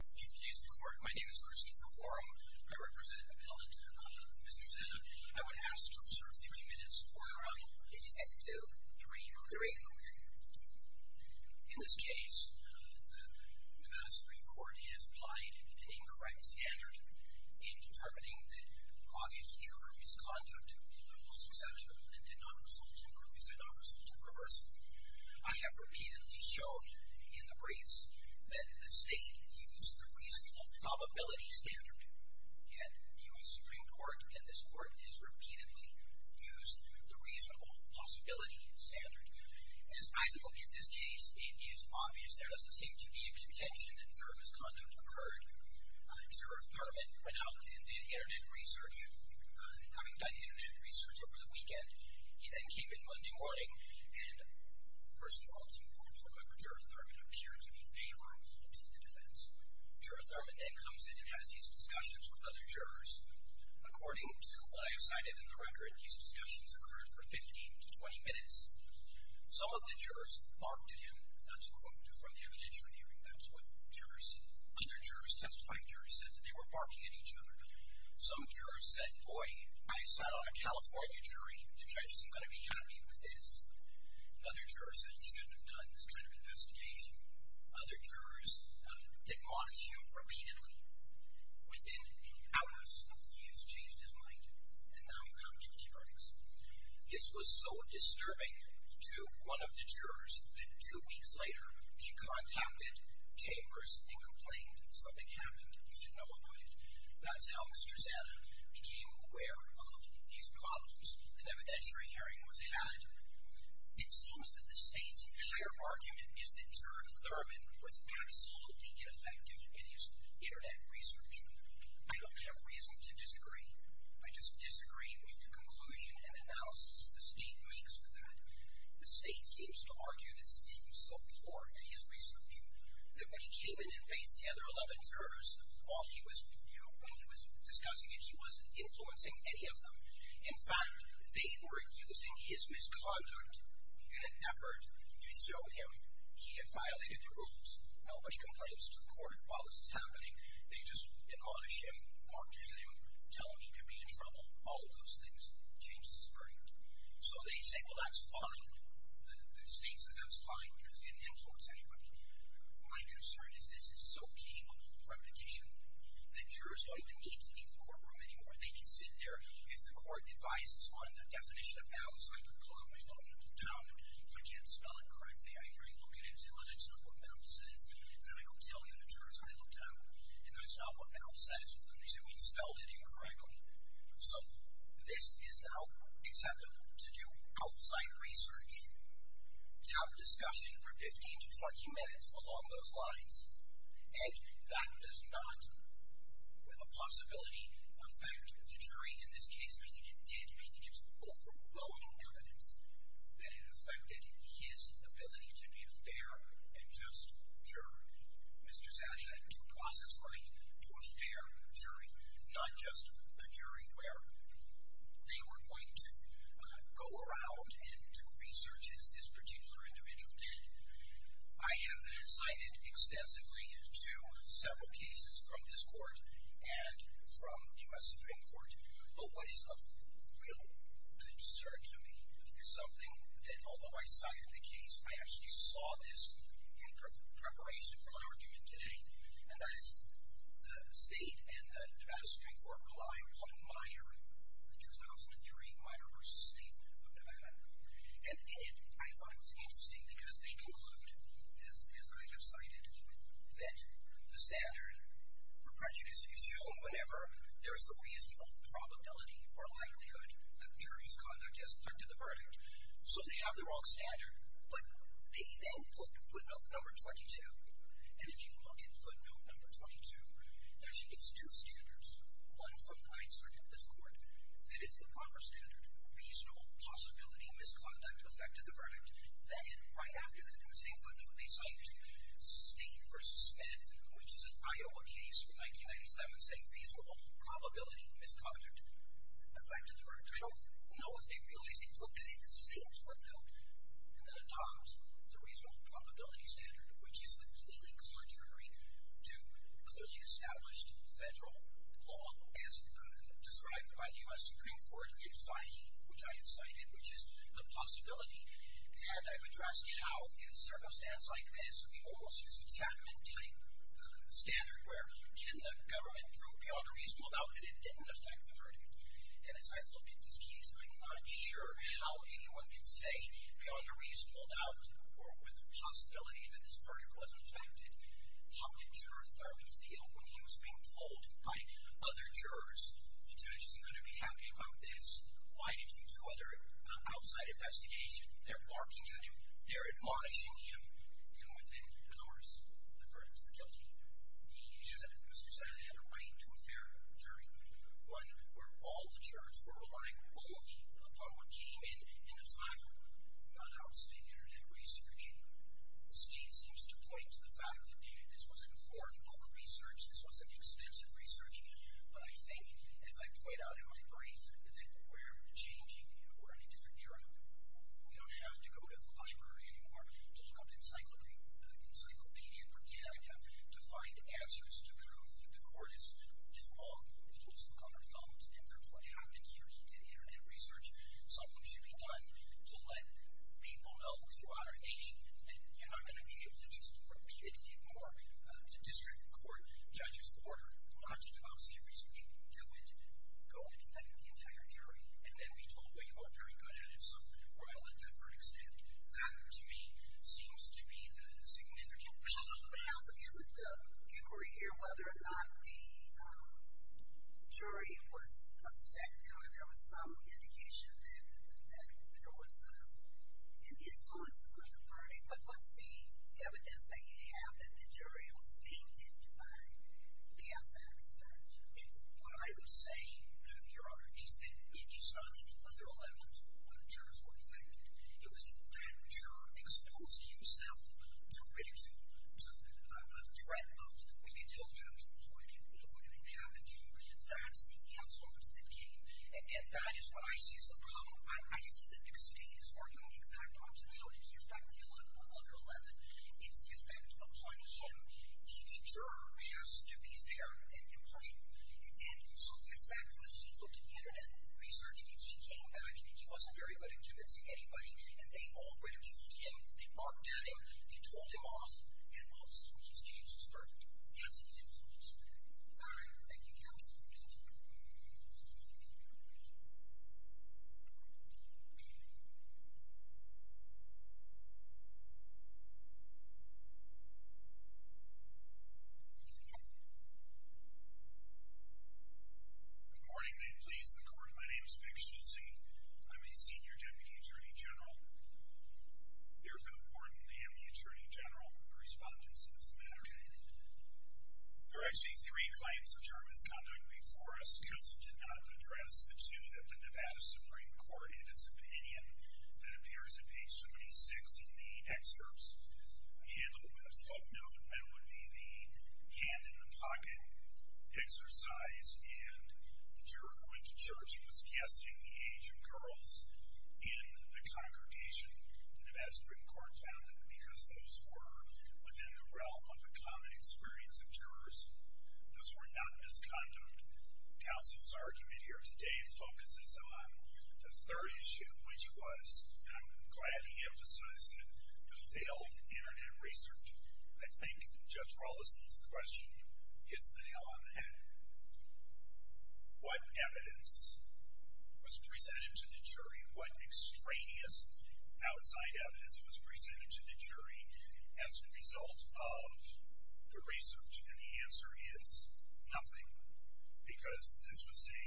You've introduced the court. My name is Christopher Warren. I represent Appellant Mr. Zana. I would ask to observe three minutes for your honor. At two. Three minutes. Three minutes. In this case, the Supreme Court has applied an incorrect standard in determining that obvious juror is conduct of illegal susceptible and did not result temporarily. I have repeatedly showed in the briefs that the state used the reasonable probability standard. And the U.S. Supreme Court and this court has repeatedly used the reasonable possibility standard. As I look at this case, it is obvious there doesn't seem to be a contention that juror misconduct occurred. Juror Thurman went out and did internet research, having done internet research over the weekend. He then came in Monday morning and, first of all, it's important to remember juror Thurman appeared to be favorable to the defense. Juror Thurman then comes in and has these discussions with other jurors. According to what I have cited in the record, these discussions occurred for 15 to 20 minutes. Some of the jurors marked him. That's a quote from the evidentiary hearing. That's what jurors said. Other jurors, testifying jurors, said that they were barking at each other. Some jurors said, boy, I sat on a California jury. The judge isn't going to be happy with this. Other jurors said you shouldn't have done this kind of investigation. Other jurors did not issue repeatedly. Within hours, he has changed his mind and now you have two hearings. This was so disturbing to one of the jurors that two weeks later she contacted Chambers and complained. Something happened. You should know about it. That's how Mr. Zeta became aware of these problems. An evidentiary hearing was had. It seems that the state's clear argument is that juror Thurman was absolutely ineffective in his Internet research. I don't have reason to disagree. I just disagree with the conclusion and analysis the state makes with that. The state seems to argue that Steve's so poor at his research that when he came in and faced the other 11 jurors, while he was discussing it, he wasn't influencing any of them. In fact, they were using his misconduct in an effort to show him he had violated the rules. Nobody complains to the court while this is happening. They just admonish him, bark at him, tell him he could be in trouble. All of those things changed his verdict. So they say, well, that's fine. The state says that's fine because it didn't influence anybody. My concern is this is so capable of repetition that jurors don't even need to leave the courtroom anymore. They can sit there. If the court advises on the definition of malice, I can clog my phone and look down. If I can't spell it correctly, I can look at it and say, well, that's not what malice says. Then I go tell the jurors I looked it up, and that's not what malice says. The reason we spelled it incorrectly. So this is now acceptable to do outside research. We have a discussion for 15 to 20 minutes along those lines. And that does not with a possibility affect the jury in this case, but it did. I think it's overblown in evidence that it affected his ability to be a fair and just jury. Mr. Zaghi had due process right to a fair jury, not just a jury where they were going to go around and do research as this particular individual did. I have cited extensively to several cases from this court and from U.S. Supreme Court, but what is of real concern to me is something that although I cited the case, I actually saw this in preparation for my argument today, and that is the state and the Nevada Supreme Court rely upon Meyer, the 2003 Meyer v. Statement of Nevada. And in it, I thought it was interesting because they conclude, as I have cited, that the standard for prejudice is shown whenever there is a reasonable probability or likelihood that the jury's conduct has put to the verdict. So they have the wrong standard, but they then put footnote number 22, and if you look at footnote number 22, it actually gets two standards, one from the 9th Circuit of this court that is the proper standard, reasonable possibility misconduct affected the verdict. Then, right after they do the same footnote, they cite State v. Smith, which is an Iowa case from 1997, saying reasonable probability misconduct affected the verdict. I don't know if they realized it, but they did the same footnote, and then adopt the reasonable probability standard, which is the cleaning surgery to clearly established federal law, as described by the U.S. Supreme Court in Fahy, which I have cited, which is the possibility. And I've addressed how, in a circumstance like this, we almost use the Chapman type standard, where can the government draw a reasonable doubt that it didn't affect the verdict. And as I look at this case, I'm not sure how anyone can say, on a reasonable doubt, or with a possibility that this verdict wasn't affected, how can juror Thurman Thiel, when he was being told by other jurors, the judge isn't going to be happy about this, why didn't you do other outside investigation, they're barking at him, they're admonishing him, and within hours, the verdict is guilty. Mr. Senator had a right to a fair jury, one where all the jurors were relying only upon what came in, and it's not outstanding internet research. Steve seems to point to the fact that this was an affordable research, this wasn't expensive research, but I think, as I point out in my brief, that we're changing, we're in a different era. We don't have to go to the library anymore to look up encyclopedia, to find answers to prove that the court is wrong. We can just look on our phones, and that's what happened here. He did internet research. Something should be done to let people know throughout our nation that you're not going to be able to just repeatedly mark a district court judge's order not to do outside research. Do it. Go and do that with the entire jury. And then be told, well, you weren't very good at it, so we're going to let that verdict stand. That, to me, seems to be the significant question. Counsel, is it the inquiry here whether or not the jury was affected? I mean, there was some indication that there was an influence on the verdict, but what's the evidence that you have that the jury was being teased by the outside research? What I would say, Your Honor, is that if you saw me, because there were 11 jurors who were affected, it was then that the juror exposed himself to ridicule, to the threat of, well, you can tell the judge, well, look what happened to you. That's the counsel office that came, and that is what I see as the problem. I see that New York City is working on the exact opposite. So, did he affect the other 11? Is the effect upon him? Did the juror react to these there impressions? And so the effect was he looked at the internet research, and he came back and he wasn't very good at convincing anybody, and they all went to speak to him. They mocked at him, they told him off, and, well, this was his chance to start dancing his moves. Thank you, counsel. Thank you for your time. Thank you very much. Good morning. You may please the court. My name is Vic Schutze. I'm a senior deputy attorney general. It is important to have the attorney general respond to this matter. There are actually three claims the jury has conducted before us, because it did not address the two that the Nevada Supreme Court, in its opinion, that appears at page 76 in the excerpts, handled with a footnote. That would be the hand in the pocket exercise, and the juror going to church was casting the age of girls in the congregation. The Nevada Supreme Court found that because those were within the realm of a common experience of jurors, those were not misconduct. Counsel's argument here today focuses on the third issue, which was, and I'm glad he emphasized it, the failed Internet research. I think Judge Rollison's question hits the nail on the head. What evidence was presented to the jury? What extraneous outside evidence was presented to the jury as a result of the research? And the answer is nothing, because this was a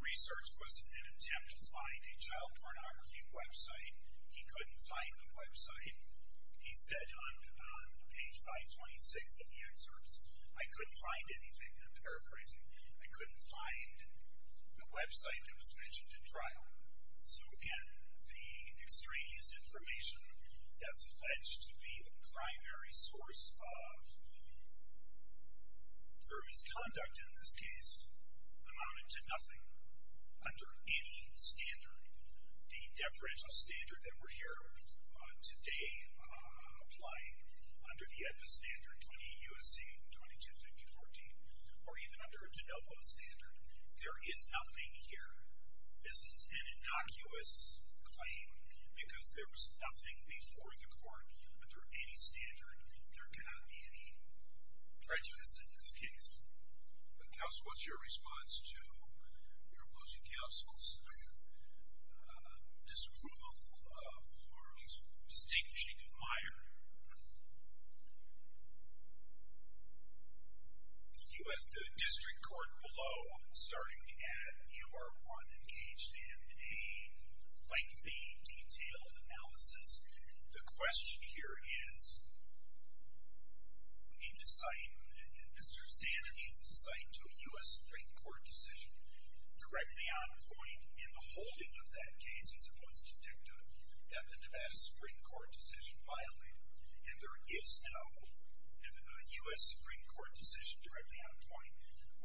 research was an attempt to find a child pornography website. He couldn't find the website. He said on page 526 in the excerpts, I couldn't find anything, and I'm paraphrasing, I couldn't find the website that was mentioned in trial. So, again, the extraneous information that's alleged to be the primary source of the jury's conduct in this case amounted to nothing under any standard. The deferential standard that we're here today applying, under the EDMA standard, 20 U.S.C. 2250-14, or even under a de novo standard, there is nothing here. This is an innocuous claim, because there was nothing before the court under any standard. There cannot be any prejudice in this case. Counsel, what's your response to your opposing counsel? Disapproval for his distinguishing admirer. The district court below, starting at U.R. 1, engaged in a lengthy, detailed analysis. The question here is, we need to cite, Mr. Zander needs to cite to a U.S. Supreme Court decision directly on point in the holding of that case. He's supposed to detect that the Nevada Supreme Court decision violated it, and there is no U.S. Supreme Court decision directly on point.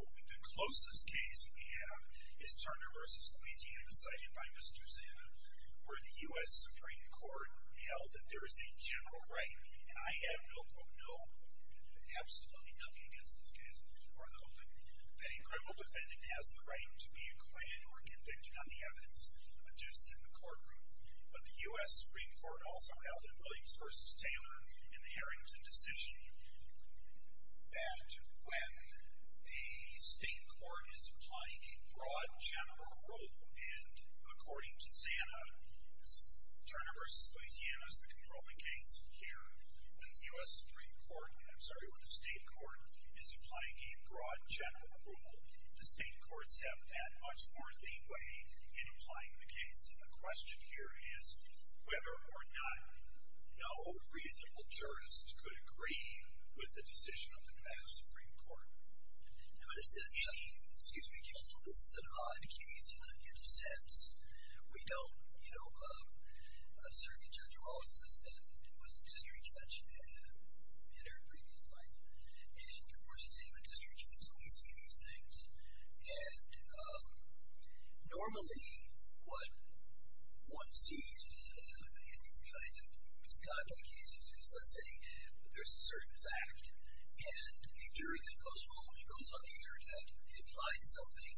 The closest case we have is Turner v. Louisiana, cited by Mr. Zander, where the U.S. Supreme Court held that there is a general right, and I have no, absolutely nothing against this case, that a criminal defendant has the right to be acquitted or convicted on the evidence adduced in the courtroom. But the U.S. Supreme Court also held in Williams v. Taylor in the Harrington decision that when a state court is applying a broad general rule, and according to Zander, Turner v. Louisiana is the controlling case here. When the U.S. Supreme Court, I'm sorry, when a state court is applying a broad general rule, the state courts have that much more leeway in applying the case, and the question here is whether or not no reasonable jurist could agree with the decision of the Nevada Supreme Court. Excuse me, counsel, this is an odd case in a sense. We don't, you know, certainly Judge Rawlings was a district judge in her previous life, and, of course, the name of a district judge, so we see these things. And normally what one sees in these kinds of misconduct cases is, let's say, there's a certain fact, and a jury that goes home and goes on the internet and finds something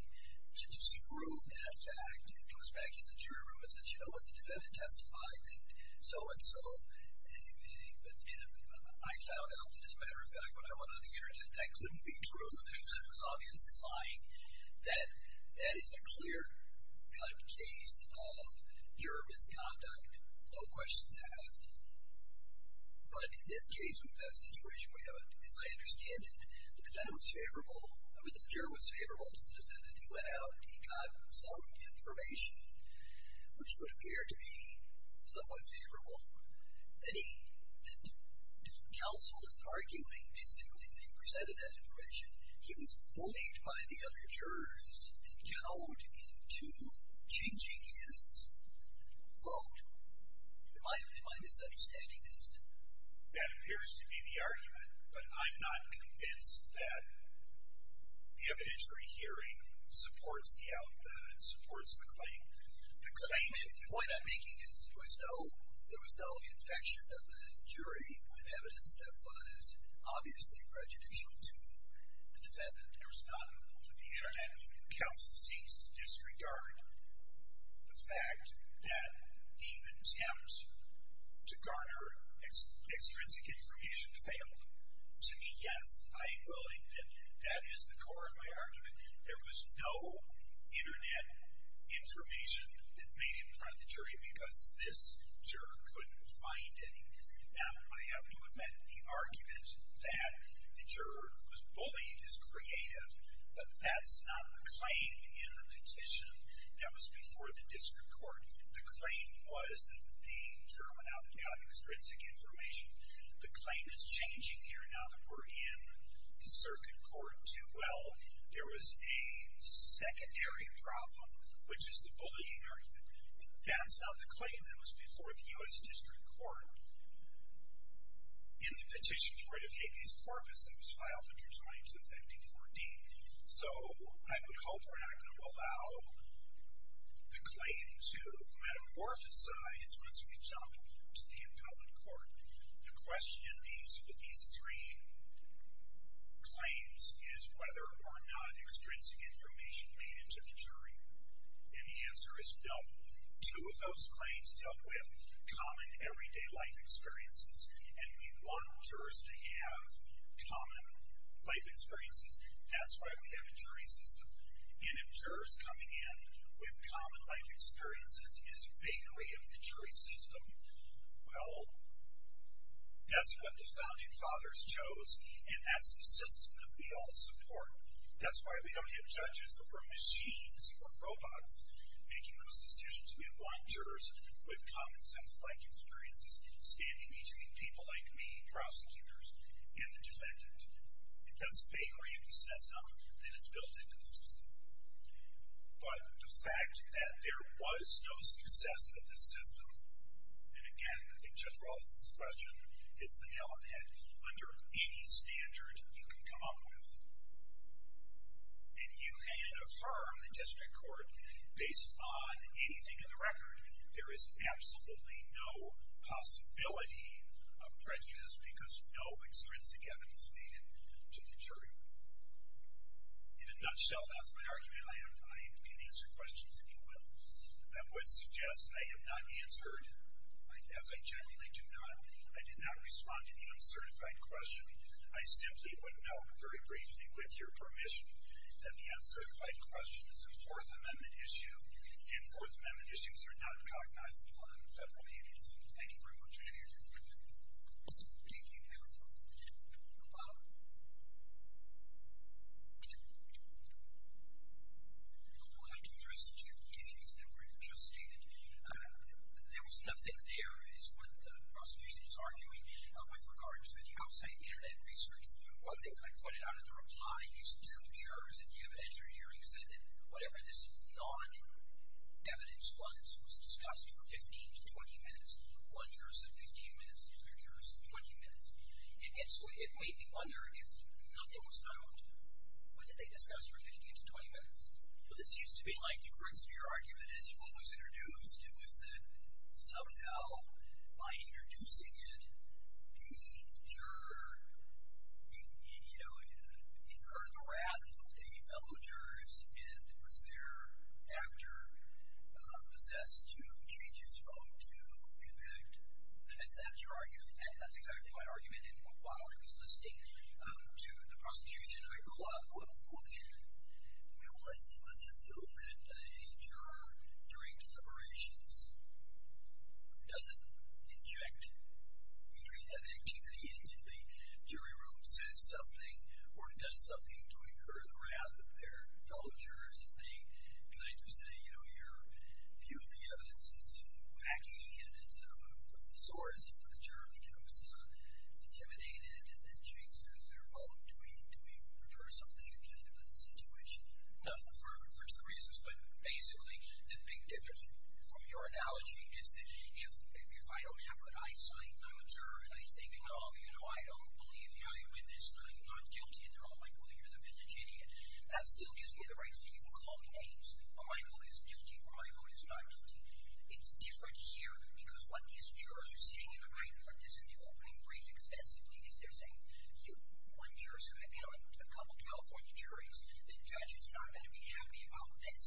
to disprove that fact, and goes back in the jury room and says, did you know what the defendant testified? And so and so. I found out that, as a matter of fact, when I went on the internet, that couldn't be true. It was obviously lying. That is a clear-cut case of juror misconduct, no questions asked. But in this case, we've got a situation where, as I understand it, the juror was favorable to the defendant. He went out and he got some information, which would appear to be somewhat favorable. And if the counsel is arguing as to who presented that information, he was bullied by the other jurors and cowed into changing his vote. Am I misunderstanding this? That appears to be the argument, but I'm not convinced that the evidentiary hearing supports the alibi and supports the claim. The point I'm making is there was no infection of the jury when evidence that was obviously prejudicial to the defendant. It was not applicable to the internet. The counsel seems to disregard the fact that the evidence counts to garner extrinsic information failed. To me, yes, I am willing that that is the core of my argument. There was no internet information that made it in front of the jury because this juror couldn't find any. Now, I have to admit the argument that the juror was bullied is creative, but that's not the claim in the petition. That was before the district court. The claim was that the juror went out and got extrinsic information. The claim is changing here now that we're in the circuit court. Well, there was a secondary problem, which is the bullying argument. That's not the claim. That was before the U.S. District Court. In the petition's writ of habeas corpus, that was filed from 2009 to 2014. So I would hope we're not going to allow the claim to metamorphosize once we jump to the appellate court. The question in these three claims is whether or not extrinsic information made it to the jury. And the answer is no. Two of those claims dealt with common everyday life experiences, and we want jurors to have common life experiences. That's why we have a jury system. And if jurors coming in with common life experiences is vaguely of the jury system, well, that's what the founding fathers chose, and that's the system that we all support. That's why we don't have judges or machines or robots making those decisions. We want jurors with common sense-like experiences standing between people like me, prosecutors, and the defendant. It does vaguely of the system, and it's built into the system. But the fact that there was no success of this system, and again, I think Judge Rawlinson's question, it's the element under any standard you can come up with. And you can affirm in district court, based on anything in the record, there is absolutely no possibility of prejudice because no extrinsic evidence made it to the jury. In a nutshell, that's my argument. I can answer questions if you will. That would suggest I have not answered, as I generally do not, I did not respond to the uncertified question. I simply would note very briefly, with your permission, that the uncertified question is a Fourth Amendment issue, and Fourth Amendment issues are not recognized by the federal agencies. Thank you very much. Thank you. I have a follow-up. Well, I do address two issues that were just stated. There was nothing there, is what the prosecution is arguing, with regards to the outside Internet research. One thing I pointed out in the reply is two jurors in the evidentiary hearings said that whatever this non-evidence was, it was discussed for 15 to 20 minutes. One juror said 15 minutes, the other juror said 20 minutes. And so it made me wonder if nothing was found. What did they discuss for 15 to 20 minutes? Well, this used to be like the Grigsby argument is what was introduced. It was that somehow, by introducing it, the juror incurred the wrath of the fellow jurors and was thereafter possessed to change his vote to convict. And that's exactly my argument. And while I was listening to the prosecution, I thought, well, let's assume that a juror during deliberations who doesn't inject evidence-heavy activity into the jury room or does something to incur the wrath of their fellow jurors, they kind of say, you know, you've viewed the evidence. It's wacky, and it's sort of when the juror becomes intimidated and then changes their vote, do we prefer something you did in that situation? Well, for a number of reasons, but basically the big difference from your analogy is that if I don't have good eyesight, I'm a juror, and I'm thinking, oh, you know, I don't believe I am in this, I'm not guilty, and they're all like, well, you're the vintage idiot. That still gives me the right to even call names. My vote is guilty or my vote is not guilty. It's different here because what these jurors are saying, and I put this in the opening brief extensively, is they're saying, one juror's going to, you know, a couple of California juries, the judge is not going to be happy about this.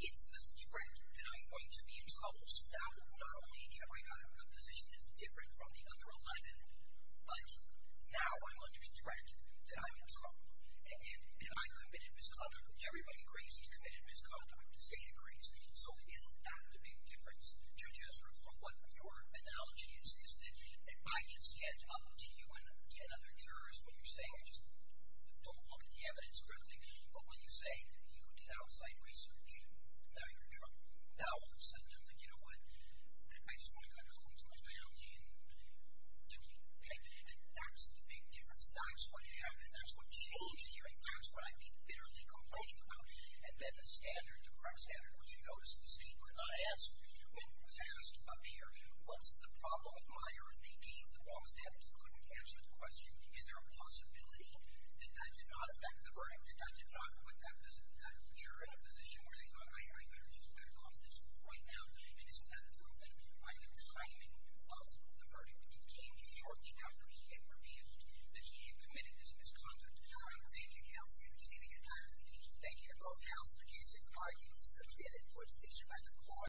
It's the threat that I'm going to be in trouble. So now not only have I got a position that's different from the other 11, but now I'm under the threat that I'm in trouble, and I committed misconduct, which everybody agrees, he's committed misconduct, the state agrees. So isn't that the big difference, Judge Ezra, from what your analogy is, is that if I could stand up to you and ten other jurors, what you're saying, I just don't look at the evidence correctly, but when you say you did outside research, now you're in trouble. Now all of a sudden I'm thinking, you know what, I just want to go home to my family and do it, okay? And that's the big difference. That's what happened. That's what changed here, and that's what I've been bitterly complaining about. And then the standard, the crime standard, which you noticed the state could not answer, when it was asked up here, what's the problem with Meyer and the E, the law standards couldn't answer the question, is there a possibility that that did not affect the verdict, that that did not put that juror in a position where they thought, I better just back off this right now, and isn't that a problem? I am complaining of the verdict. It came shortly after he had revealed that he had committed this misconduct. All right, thank you, counsel. You've exceeded your time. Thank you to both counsels. The case is argued, submitted, court is adjourned by the court.